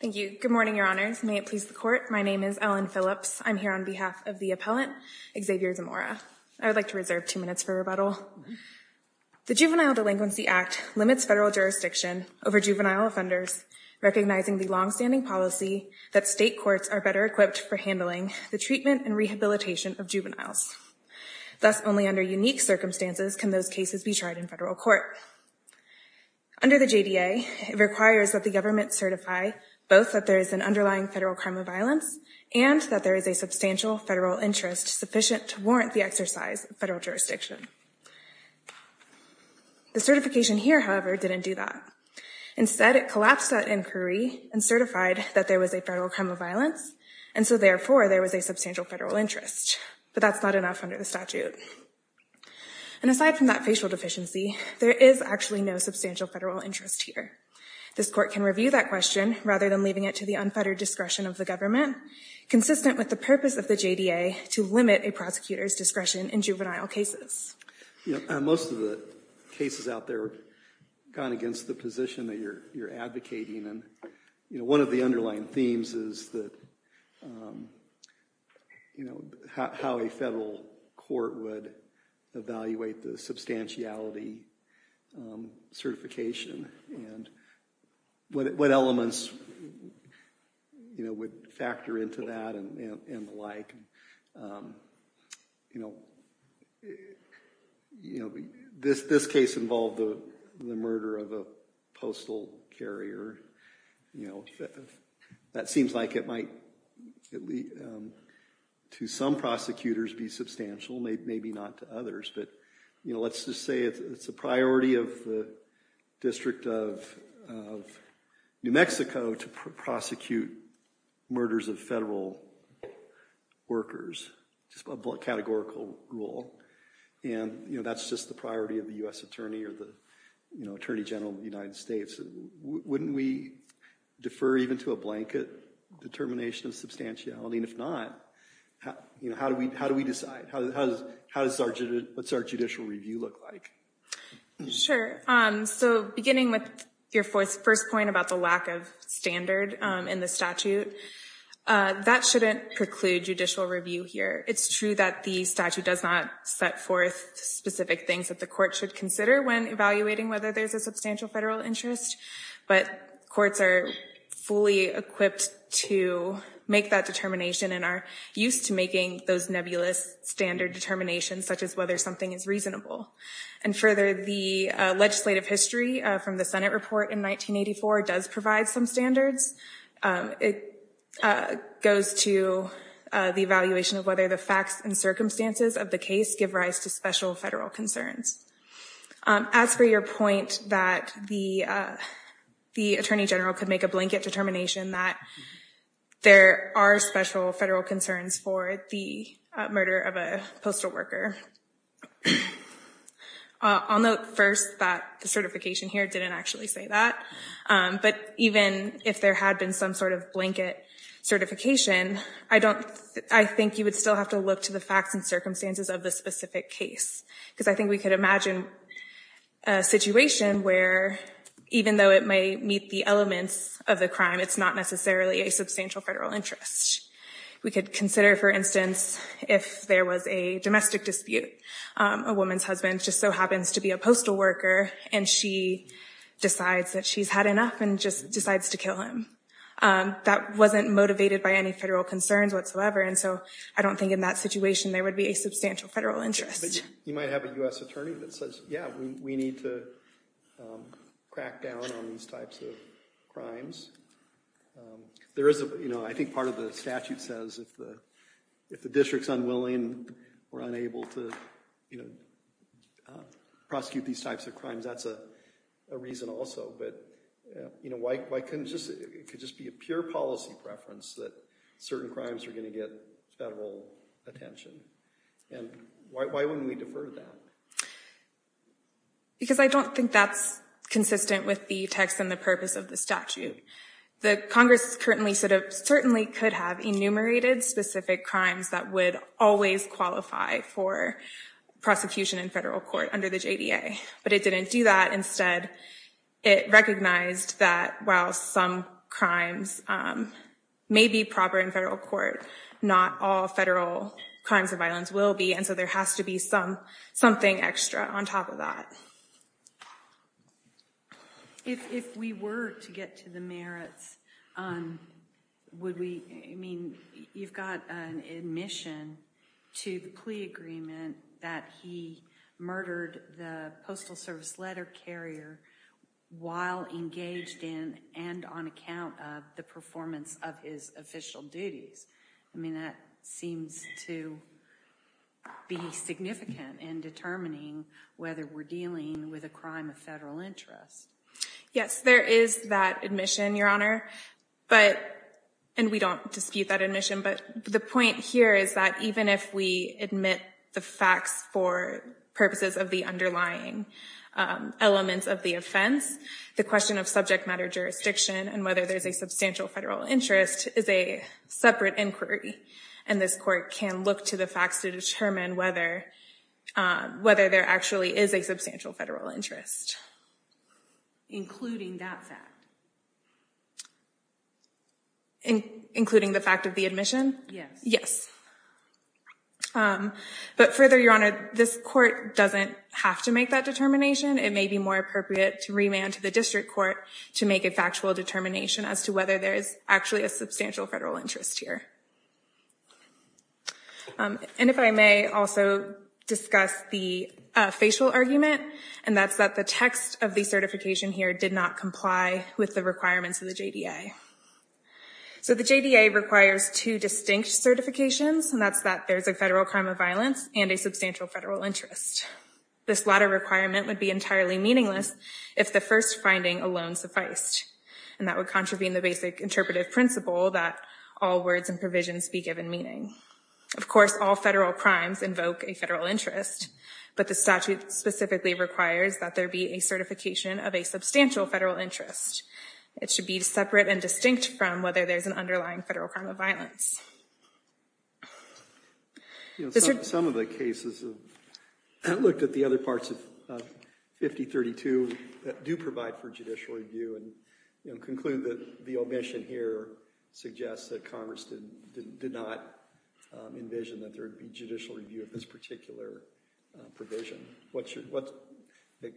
Thank you. Good morning, your honors. May it please the court. My name is Ellen Phillips. I'm here on behalf of the appellant, Xavier Zamora. I would like to reserve two minutes for rebuttal. The Juvenile Delinquency Act limits federal jurisdiction over juvenile offenders, recognizing the longstanding policy that state courts are better equipped for handling the treatment and rehabilitation of juveniles. Thus, only under unique circumstances can those cases be tried in federal court. Under the JDA, it requires that the government certify both that there is an underlying federal crime of violence and that there is a substantial federal interest sufficient to warrant the exercise of federal jurisdiction. The certification here, however, didn't do that. Instead, it collapsed that inquiry and certified that there was a federal crime of violence, and so therefore, there was a substantial federal interest. But that's not enough under the statute. And aside from that facial deficiency, there is actually no substantial federal interest here. This court can review that question rather than leaving it to the unfettered discretion of the government, consistent with the purpose of the JDA to limit a prosecutor's discretion in juvenile cases. Most of the cases out there have gone against the position that you're advocating. And one of the underlying themes is that, you know, how a federal court would evaluate the substantiality certification, and what elements, you know, would factor into that and the like. You know, this case involved the murder of a postal carrier. You know, that seems like it might, to some prosecutors, be substantial, maybe not to others. But, you know, let's just say it's a priority of the District of New Mexico to prosecute murders of federal workers, just a categorical rule. And, you know, that's just the priority of the U.S. Attorney or the, you know, Attorney General of the United States. Wouldn't we defer even to a blanket determination of substantiality? And if not, you know, how do we decide? What's our judicial review look like? Sure. So beginning with your first point about the lack of standard in the statute, that shouldn't preclude judicial review here. It's true that the statute does not set forth specific things that the court should consider when evaluating whether there's a substantial federal interest. But courts are fully equipped to make that determination and are used to making those nebulous standard determinations, such as whether something is reasonable. And further, the legislative history from the Senate report in 1984 does provide some standards. It goes to the evaluation of whether the facts and circumstances of the case give rise to special federal concerns. As for your point that the Attorney General could make a blanket determination that there are special federal concerns for the murder of a postal worker, I'll note first that the certification here didn't actually say that. But even if there had been some sort of blanket certification, I don't, I think you would still have to look to the facts and circumstances of the specific case. Because I think we could imagine a situation where even though it may meet the elements of the crime, it's not necessarily a substantial federal interest. We could consider, for instance, if there was a domestic dispute. A woman's husband just so happens to be a postal worker, and she decides that she's had enough and just decides to kill him. That wasn't motivated by any federal concerns whatsoever, and so I don't think in that situation there would be a substantial federal interest. You might have a U.S. attorney that says, yeah, we need to crack down on these types of crimes. There is a, you know, I think part of the statute says if the district's unwilling or unable to prosecute these types of crimes, that's a reason also. But, you know, why couldn't just, it could just be a pure policy preference that certain crimes are going to get federal attention, and why wouldn't we defer to that? Because I don't think that's consistent with the text and the purpose of the statute. The Congress currently sort of certainly could have enumerated specific crimes that would always qualify for prosecution in federal court under the JDA, but it didn't do that. Instead, it recognized that while some crimes may be proper in federal court, not all federal crimes of violence will be, and so there has to be something extra on top of that. If we were to get to the merits, would we, I mean, you've got an admission to the plea agreement that he murdered the postal service letter carrier while engaged in and on account of the performance of his official duties. I mean, that seems to be significant in determining whether we're dealing with a crime of federal interest. Yes, there is that admission, Your Honor, but, and we don't dispute that admission, but the point here is that even if we admit the facts for purposes of the underlying elements of the offense, the question of subject matter jurisdiction and whether there's a substantial federal interest is a separate inquiry, and this court can look to the facts to determine whether whether there actually is a substantial federal interest. Including that fact? Including the fact of the admission? Yes. Yes, but further, Your Honor, this court doesn't have to make that determination. It may be more appropriate to remand to the district court to make a factual determination as to whether there is actually a substantial federal interest here. And if I may also discuss the facial argument, and that's that the text of the certification here did not comply with the requirements of the JDA. So the JDA requires two distinct certifications, and that's that there's a federal crime of violence and a substantial federal interest. This latter requirement would be entirely meaningless if the first finding alone sufficed, and that would contravene the basic interpretive principle that all words and provisions be given meaning. Of course, all federal crimes invoke a federal interest, but the statute specifically requires that there be a certification of a substantial federal interest. It should be separate and distinct from whether there's an underlying federal crime of violence. You know, some of the cases have looked at the other parts of 5032 that do provide for judicial review and conclude that the omission here suggests that Congress did not envision that there would be judicial review of this particular provision.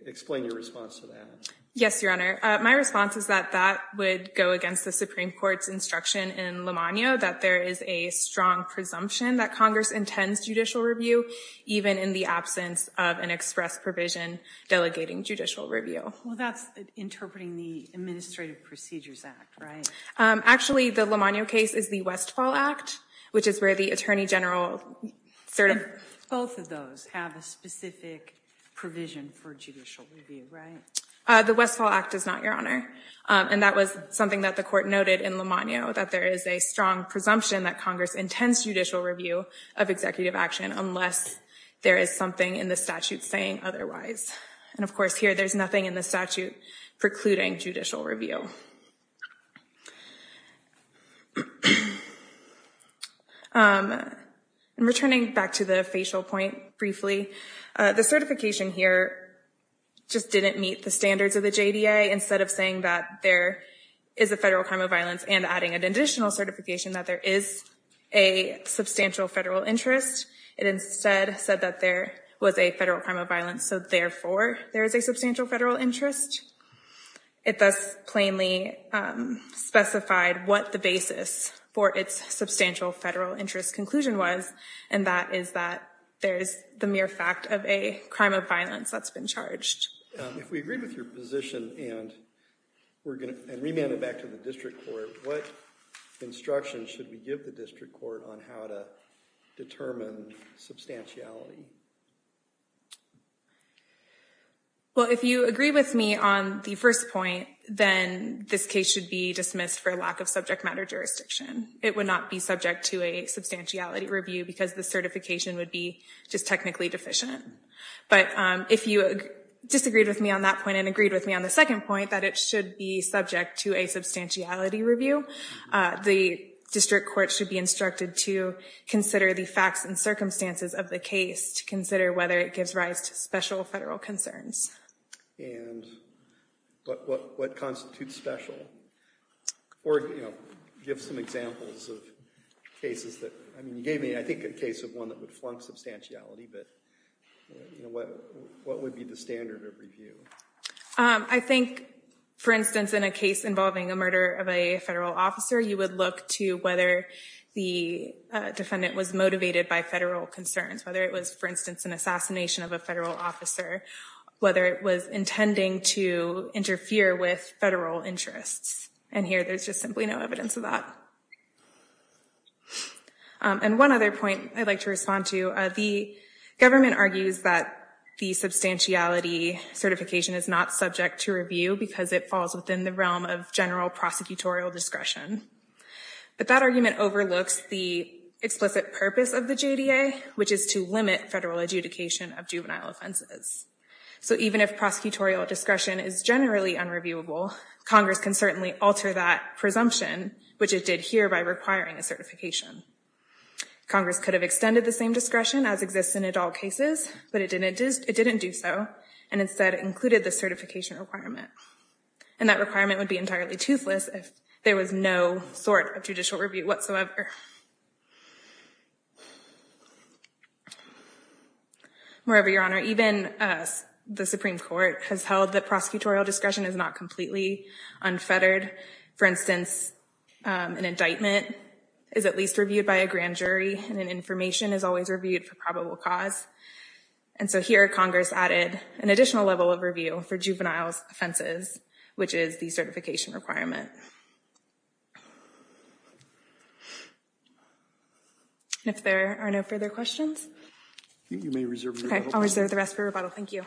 Explain your response to that. Yes, Your Honor. My response is that that would go against the Supreme Court's instruction in a strong presumption that Congress intends judicial review, even in the absence of an express provision delegating judicial review. Well, that's interpreting the Administrative Procedures Act, right? Actually, the Lamonio case is the Westfall Act, which is where the Attorney General sort of... Both of those have a specific provision for judicial review, right? The Westfall Act does not, Your Honor, and that was something that the Court noted in Lamonio, that there is a presumption that Congress intends judicial review of executive action unless there is something in the statute saying otherwise. And of course, here there's nothing in the statute precluding judicial review. Returning back to the facial point briefly, the certification here just didn't meet the standards of the JDA. Instead of saying that there is a federal crime of violence and adding an additional certification that there is a substantial federal interest, it instead said that there was a federal crime of violence, so therefore there is a substantial federal interest. It thus plainly specified what the basis for its substantial federal interest conclusion was, and that is that there's the mere fact of a crime of violence that's been charged. If we agree with your position and we're going to... And remand it back to the District Court, what instruction should we give the District Court on how to determine substantiality? Well, if you agree with me on the first point, then this case should be dismissed for lack of subject matter jurisdiction. It would not be subject to a substantiality review because the certification would be just technically deficient. But if you disagreed with me on that point and the second point that it should be subject to a substantiality review, the District Court should be instructed to consider the facts and circumstances of the case to consider whether it gives rise to special federal concerns. And what constitutes special? Or, you know, give some examples of cases that... I mean, you gave me, I think, a case of one that would flunk substantiality, but, you know, what would be the standard of review? I think, for instance, in a case involving a murder of a federal officer, you would look to whether the defendant was motivated by federal concerns, whether it was, for instance, an assassination of a federal officer, whether it was intending to interfere with federal interests. And here there's just simply no evidence of that. And one other point I'd like to respond to, the government argues that the substantiality certification is not subject to review because it falls within the realm of general prosecutorial discretion. But that argument overlooks the explicit purpose of the JDA, which is to limit federal adjudication of juvenile offenses. So even if prosecutorial discretion is generally unreviewable, Congress can certainly alter that presumption, which it did here in the requiring a certification. Congress could have extended the same discretion as exists in adult cases, but it didn't do so, and instead included the certification requirement. And that requirement would be entirely toothless if there was no sort of judicial review whatsoever. Moreover, Your Honor, even the Supreme Court has held that prosecutorial discretion is not unfettered. For instance, an indictment is at least reviewed by a grand jury, and an information is always reviewed for probable cause. And so here Congress added an additional level of review for juvenile offenses, which is the certification requirement. And if there are no further questions, I'll reserve the rest for rebuttal. Thank you.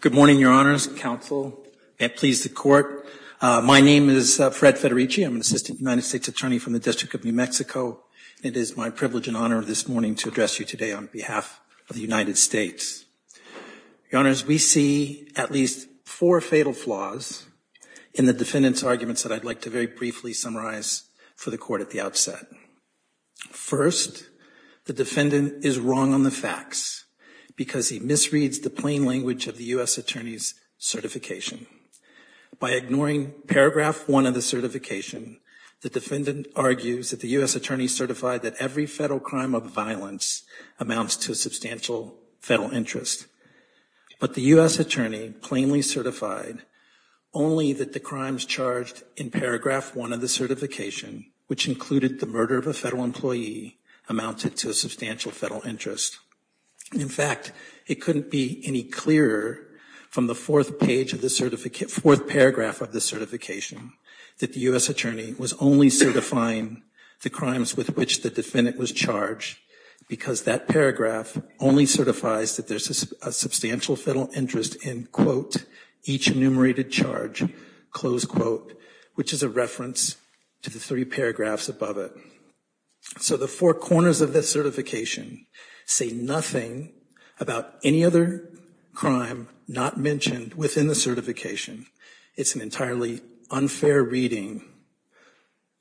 Good morning, Your Honors, counsel, and please the Court. My name is Fred Federici. I'm an assistant United States attorney from the District of New Mexico. It is my privilege and honor this morning to address you today on behalf of the United States. Your Honors, we see at least four fatal flaws in the defendant's arguments that I'd like to very briefly summarize for the Court at the outset. First, the defendant is wrong on the facts because he misreads the plain language of the U.S. attorney's certification. By ignoring paragraph one of the certification, the defendant argues that the U.S. attorney certified that every federal crime of violence amounts to a substantial federal interest. But the U.S. attorney plainly only that the crimes charged in paragraph one of the certification, which included the murder of a federal employee, amounted to a substantial federal interest. In fact, it couldn't be any clearer from the fourth paragraph of the certification that the U.S. attorney was only certifying the crimes with which the defendant was charged because that paragraph only certifies that there's a substantial federal interest in, quote, each enumerated charge, close quote, which is a reference to the three paragraphs above it. So the four corners of this certification say nothing about any other crime not mentioned within the certification. It's an entirely unfair reading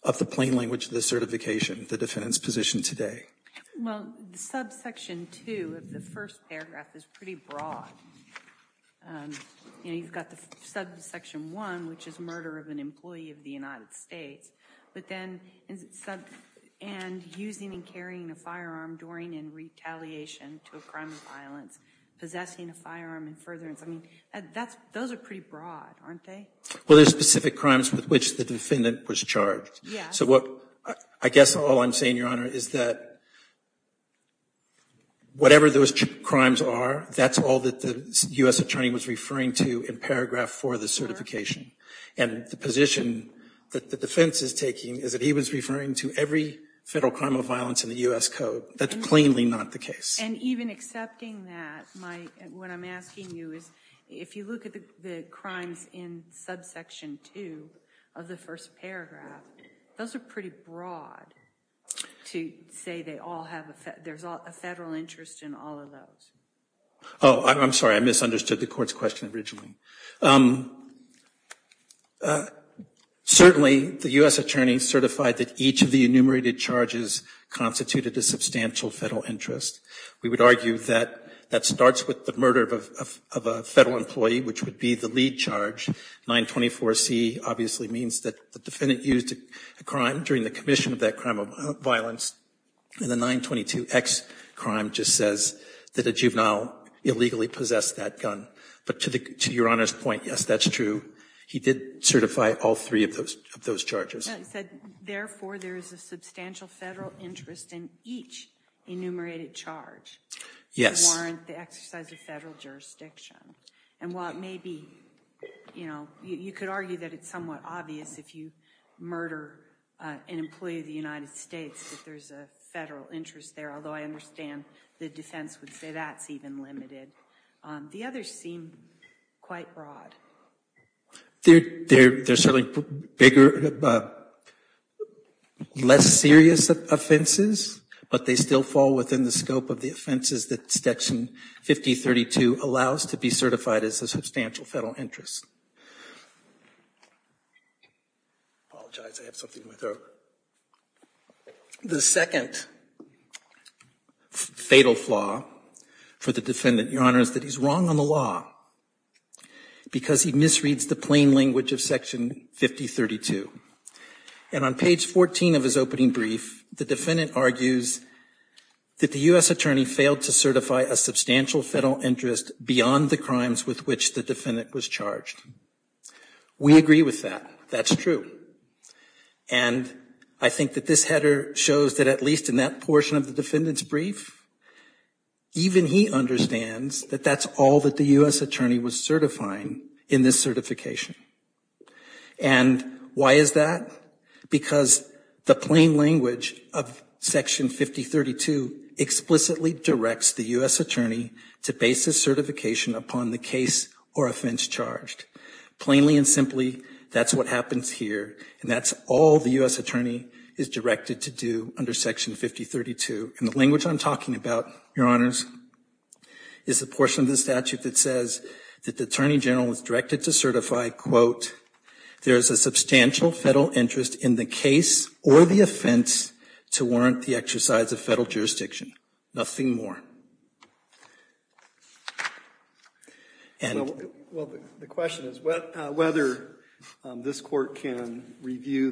of the plain language of the certification the defendant's positioned today. Well, the subsection two of the first paragraph is pretty broad. You know, you've got the subsection one, which is murder of an employee of the United States, but then sub and using and carrying a firearm during and retaliation to a crime of violence, possessing a firearm and furtherance. I mean, that's those are pretty broad, aren't they? Well, there's specific crimes with which the defendant was charged. So what I guess all I'm saying, Your Honor, is that whatever those crimes are, that's all that the U.S. attorney was referring to in paragraph four of the certification. And the position that the defense is taking is that he was referring to every federal crime of violence in the U.S. Code. That's plainly not the case. And even accepting that, what I'm asking you is, if you look at the crimes in subsection two of the first paragraph, those are pretty broad to say there's a federal interest in all of those. Oh, I'm sorry. I misunderstood the court's question originally. Certainly, the U.S. attorney certified that each of the enumerated charges constituted a substantial federal interest. We would argue that that starts with the murder of a federal employee, which would be the lead charge. 924C obviously means that the defendant used a crime during the commission of that crime of violence. And the 922X crime just says that a juvenile illegally possessed that gun. But to Your Honor's point, yes, that's true. He did certify all three of those charges. Therefore, there is a substantial federal interest in each enumerated charge to warrant the exercise of federal jurisdiction. And while it may be, you know, you could argue that it's somewhat obvious if you murder an employee of the United States that there's a federal interest there, although I understand the defense would say that's even limited. The others seem quite broad. They're certainly bigger, less serious offenses, but they still fall within the scope of the offenses that Section 5032 allows to be certified as a substantial federal interest. Apologize, I have something in my throat. The second fatal flaw for the defendant, Your Honor, is that he's wrong on the law because he misreads the plain language of Section 5032. And on page 14 of his opening brief, the defendant argues that the U.S. attorney failed to certify a substantial federal interest beyond the crimes with which the defendant was charged. We agree with that. That's true. And I think that this header shows that at least in that portion of the defendant's brief, even he understands that that's all that the U.S. attorney was certifying in this certification. And why is that? Because the plain language of Section 5032 explicitly directs the U.S. attorney to base this certification upon the case or offense charged. Plainly and simply, that's what happens here. And that's all the U.S. attorney is directed to do under Section 5032. And the portion I'm talking about, Your Honors, is the portion of the statute that says that the attorney general was directed to certify, quote, there is a substantial federal interest in the case or the offense to warrant the exercise of federal jurisdiction. Nothing more. Well, the question is whether this court can review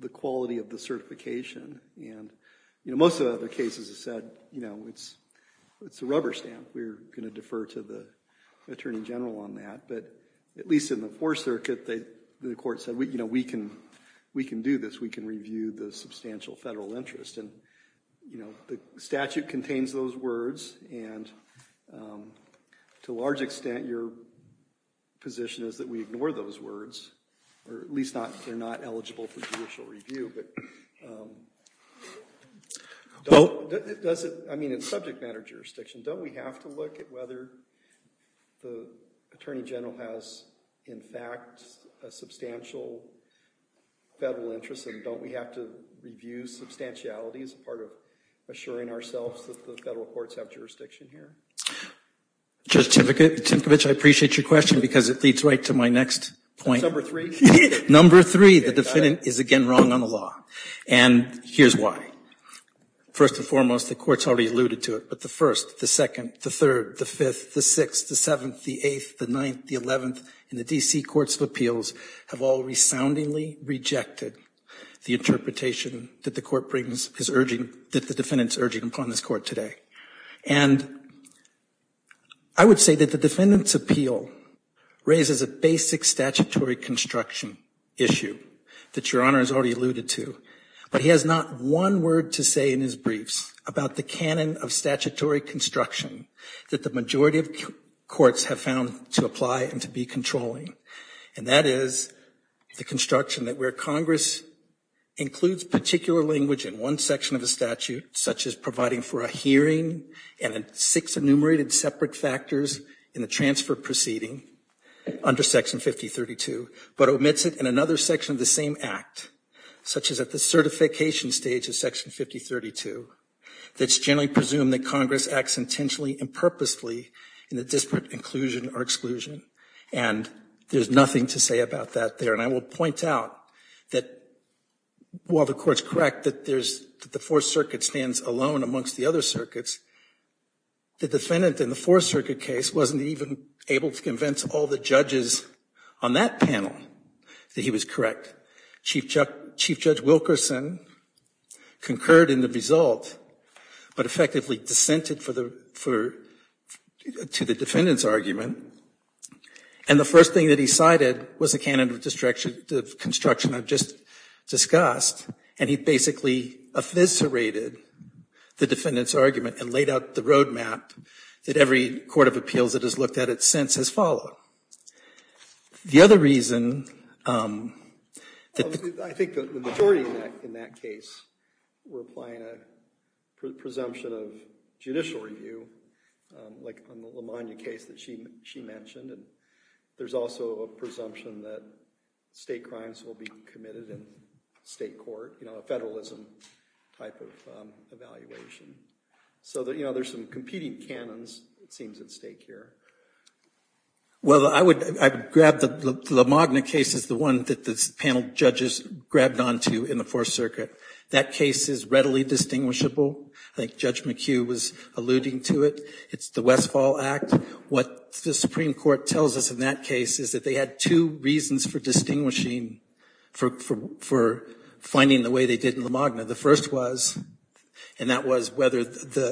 the quality of the certification. And most of the other cases have said it's a rubber stamp. We're going to defer to the attorney general on that. But at least in the Fourth Circuit, the court said we can do this. We can review the substantial federal interest. And the statute contains those words. And to a large extent, your position is that we ignore those words, or at least they're not eligible for judicial review. But in subject matter jurisdiction, don't we have to look at whether the attorney general has, in fact, a substantial federal interest? And don't we have to review substantiality as part of assuring ourselves that the federal courts have jurisdiction here? Judge Timkovich, I appreciate your question because it leads right to my next point. Number three? Number three, the defendant is again wrong on the law. And here's why. First and foremost, the courts already alluded to it. But the First, the Second, the Third, the Fifth, the Sixth, the Seventh, the Eighth, the Ninth, the Eleventh, and the D.C. Courts of Appeals have all resoundingly rejected the interpretation that the court brings, that the defendant is urging upon this court today. And I would say that the defendant's appeal raises a basic statutory construction issue that Your Honor has already alluded to. But he has not one word to say in his briefs about the canon of statutory construction that the majority of courts have found to apply and be controlling. And that is the construction that where Congress includes particular language in one section of the statute, such as providing for a hearing and six enumerated separate factors in the transfer proceeding under Section 5032, but omits it in another section of the same act, such as at the certification stage of Section 5032, that's generally presumed that Congress acts intentionally and purposefully in the disparate inclusion or exclusion. And there's nothing to say about that there. And I will point out that while the Court's correct that there's, that the Fourth Circuit stands alone amongst the other circuits, the defendant in the Fourth Circuit case wasn't even able to convince all the judges on that panel that he was correct. Chief Judge Wilkerson concurred in the result, but effectively dissented to the defendant's argument. And the first thing that he cited was the canon of construction I've just discussed. And he basically eviscerated the defendant's argument and laid out the roadmap that every court of appeals that has looked at it since has followed. The other reason, I think the majority in that case were applying a presumption of judicial review, like on the Lamonia case that she mentioned. And there's also a presumption that state crimes will be committed in state court, a federalism type of evaluation. So there's some competing canons, it seems, at stake here. Well, I would grab the Lamogna case as the one that the panel judges grabbed onto in the Fourth Circuit. That case is readily distinguishable. I think Judge McHugh was alluding to it. It's the Westfall Act. What the Supreme Court tells us in that case is that they had two reasons for distinguishing, for finding the way they did in Lamogna. The first was, and that was whether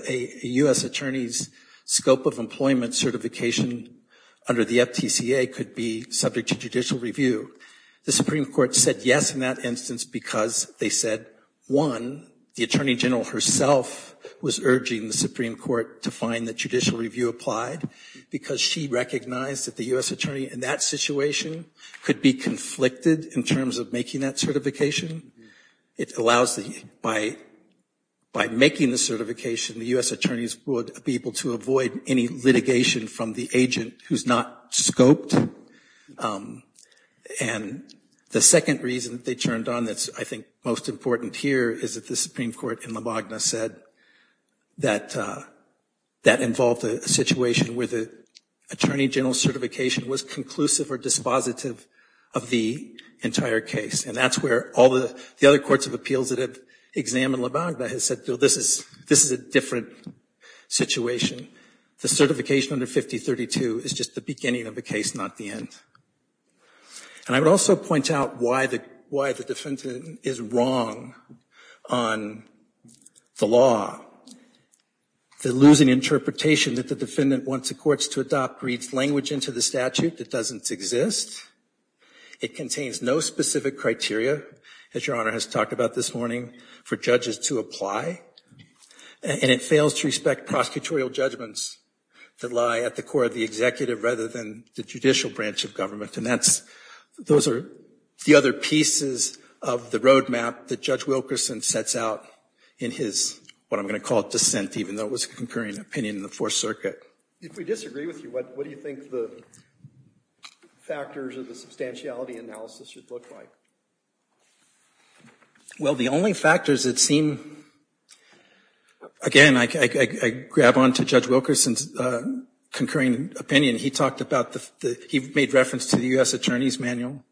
a U.S. attorney's scope of employment certification under the FTCA could be subject to judicial review. The Supreme Court said yes in that instance because they said, one, the Attorney General herself was urging the Supreme Court to find that judicial review applied because she recognized that the U.S. attorney in that situation could be conflicted in terms of that certification. It allows the, by making the certification, the U.S. attorneys would be able to avoid any litigation from the agent who's not scoped. And the second reason that they turned on that's, I think, most important here is that the Supreme Court in Lamogna said that that involved a situation where the Attorney General's certification was conclusive or dispositive of the entire case. And that's where all the other courts of appeals that have examined Lamogna has said, this is a different situation. The certification under 5032 is just the beginning of the case, not the end. And I would also point out why the defendant is wrong on the law. The losing interpretation that the defendant wants the courts to adopt reads language into the statute that doesn't exist. It contains no specific criteria, as Your Honor has talked about this morning, for judges to apply. And it fails to respect prosecutorial judgments that lie at the core of the executive rather than the judicial branch of government. And that's, those are the other pieces of the roadmap that Judge Wilkerson sets out in his, what I'm going to call it, dissent, even though it was a concurring opinion in the Fourth Circuit. If we disagree with you, what do you think the factors of the substantiality analysis should look like? Well, the only factors that seem, again, I grab on to Judge Wilkerson's concurring opinion. He talked about the, he made reference to the U.S. Attorney's Manual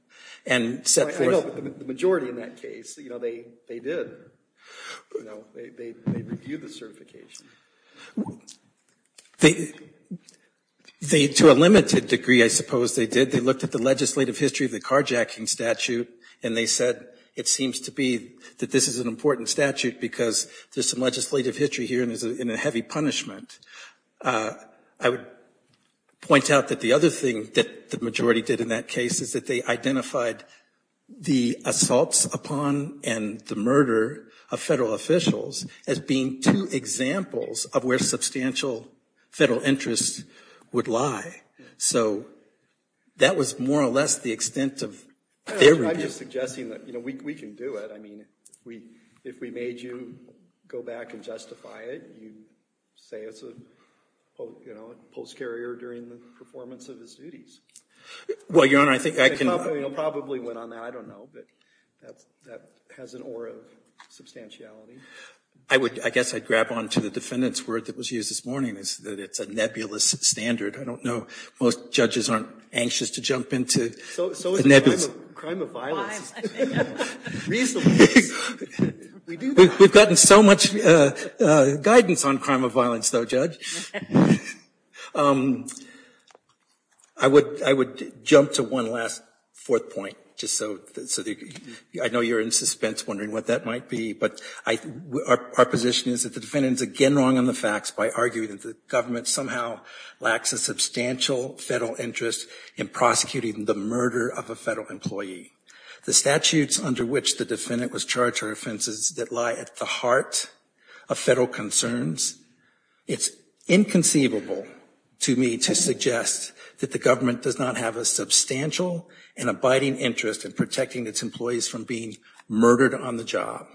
and set forth. I know, but the majority in that case, you know, they did. You know, they reviewed the certification. They, to a limited degree, I suppose they did. They looked at the legislative history of the carjacking statute and they said, it seems to be that this is an important statute because there's some legislative history here and there's a heavy punishment. I would point out that the other thing that the majority did in that case is that they identified the assaults upon and the murder of federal officials as being two examples of where substantial federal interests would lie. So that was more or less the extent of their review. I'm just suggesting that, you know, we can do it. I mean, if we made you go back and justify it, you'd say it's a post carrier during the performance of his duties. Well, Your Honor, I think I can. They probably went on that. I don't know, but that has an aura of substantiality. I would, I guess I'd grab on to the defendant's word that was used this morning, is that it's a nebulous standard. I don't know. Most judges aren't anxious to jump into nebulous. So is the crime of violence. Reasonable. We've gotten so much guidance on crime of violence, though, Judge. I would, I would jump to one last fourth point, just so I know you're in suspense wondering what that might be. But our position is that the defendant is again wrong on the facts by arguing that the government somehow lacks a substantial federal interest in prosecuting the murder of a federal employee. The statutes under which the defendant was charged are offenses that lie at the heart of federal concerns. It's inconceivable to me to suggest that the government does not have a substantial and abiding interest in protecting its employees from being murdered on the job.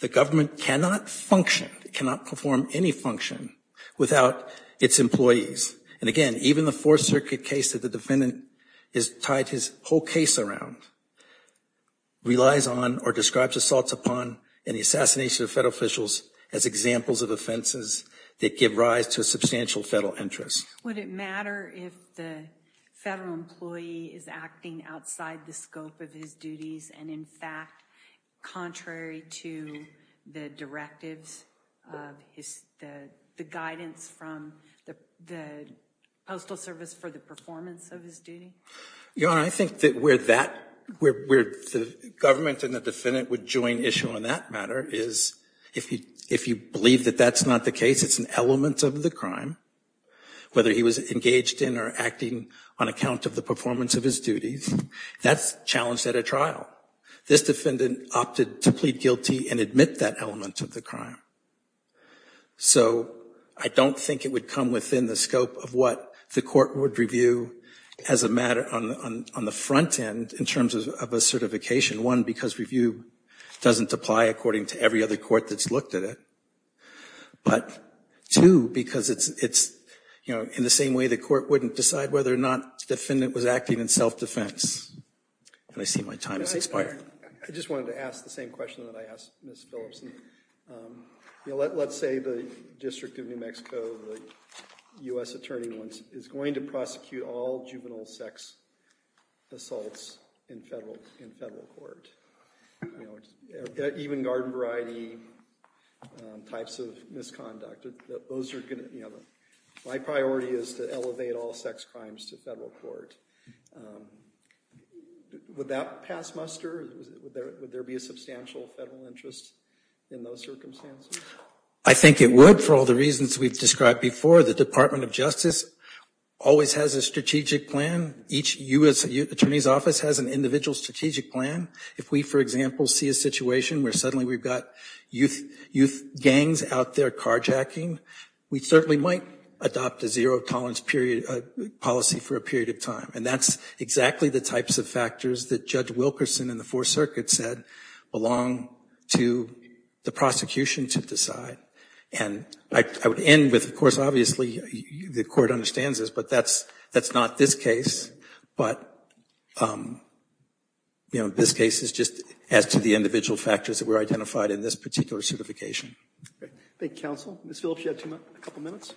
The government cannot function, cannot perform any function without its employees. And again, even the Fourth Circuit case that the defendant is tied his whole case around relies on or describes assaults upon and the assassination of federal officials as examples of offenses that give rise to a substantial federal interest. Would it matter if the federal employee is acting outside the scope of his duties and in fact, contrary to the directives of the guidance from the Postal Service for the performance of his duty? Your Honor, I think that where that, where the government and the defendant would join issue on that matter is if you believe that that's not the case, it's an element of the crime, whether he was engaged in or acting on account of the performance of his duties, that's challenged at a trial. This defendant opted to plead guilty and admit that element of the crime. So I don't think it would come within the scope of what the court would review as a matter on the front end in terms of a certification. One, because review doesn't apply according to every other court that's looked at it. But two, because it's, you know, in the same way the court wouldn't decide whether or not the defendant was acting in self-defense. And I see my time has expired. I just wanted to ask the same question that I asked Ms. Philipson. You know, let's say the District of New Mexico, the U.S. Attorney, is going to prosecute all juvenile sex assaults in federal court. You know, even garden variety types of misconduct. Those are going to, you know, my priority is to elevate all sex crimes to federal court. Would that pass muster? Would there be a substantial federal interest in those circumstances? I think it would for all the reasons we've described before. The Department of Justice always has a strategic plan. Each U.S. Attorney's office has an individual strategic plan. If we, for example, see a situation where suddenly we've got youth gangs out there carjacking, we certainly might adopt a zero tolerance policy for a period of time. And that's exactly the types of factors that Judge Wilkerson and the Fourth Circuit said belong to the prosecution to decide. And I would end with, of course, obviously, the court understands this, but that's not this case. But, you know, this case is just as to the individual factors that were identified in this particular certification. Thank you, counsel. Ms. Phillips, you have a couple minutes.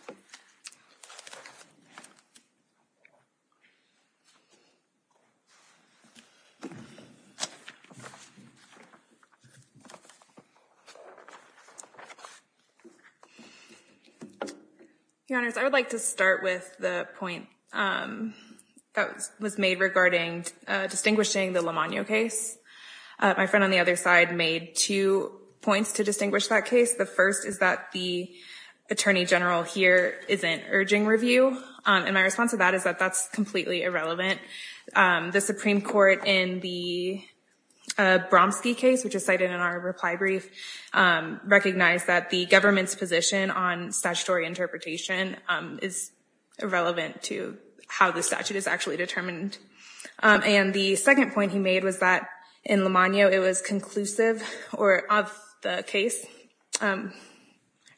Your Honors, I would like to start with the point that was made regarding distinguishing the Lamonio case. My friend on the other side made two points to distinguish that case. The first is that the Attorney General here isn't urging review. And my response to that is that that's completely irrelevant. The Supreme Court in the Bromski case, which is cited in our reply brief, recognized that the government's position on statutory interpretation is irrelevant to how the statute is actually determined. And the second point he made was that in Lamonio, it was conclusive or of the case,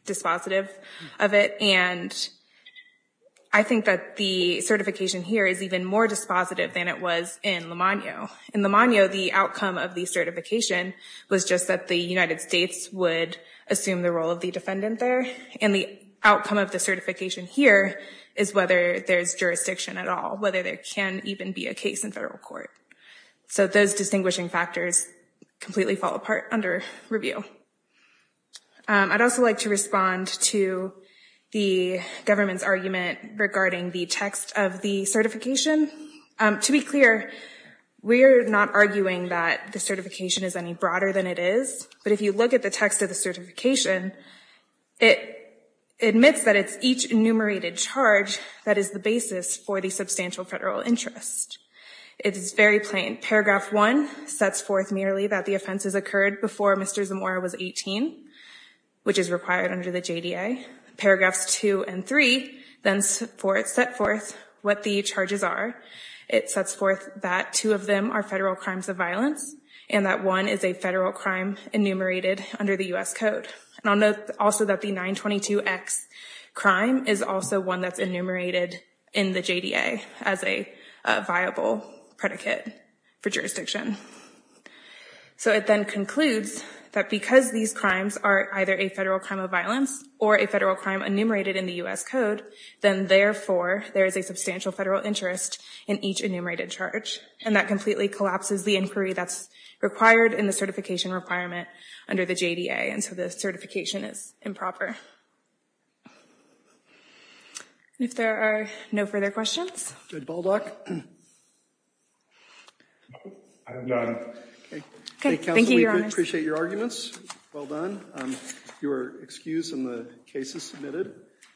dispositive of it. And I think that the certification here is even more dispositive than it was in Lamonio. In Lamonio, the outcome of the certification was just that the United States would assume the role of the defendant there. And the outcome of the certification here is whether there's jurisdiction at all, whether there can even be a case in federal court. So those distinguishing factors completely fall apart under review. I'd also like to respond to the government's argument regarding the text of the certification. To be clear, we're not arguing that the certification is any broader than it is. But if you look at the text of the certification, it admits that it's each enumerated charge that is the basis for the substantial federal interest. It is very plain. Paragraph one sets forth merely that the offenses occurred before Mr. Zamora was 18, which is required under the JDA. Paragraphs two and three then set forth what the charges are. It sets forth that two of them are federal crimes of violence and that one is a federal crime enumerated under the U.S. Code. And I'll note also that the 922X crime is also one that's enumerated in the JDA as a viable predicate for jurisdiction. So it then concludes that because these crimes are either a federal crime of violence or a federal crime enumerated in the U.S. Code, then therefore there is a substantial federal interest in each enumerated charge. And that completely collapses the inquiry that's required in the certification requirement under the JDA. And so the certification is improper. If there are no further questions. Good. Baldock? I'm done. Okay. Thank you. Appreciate your arguments. Well done. Your excuse in the case is submitted.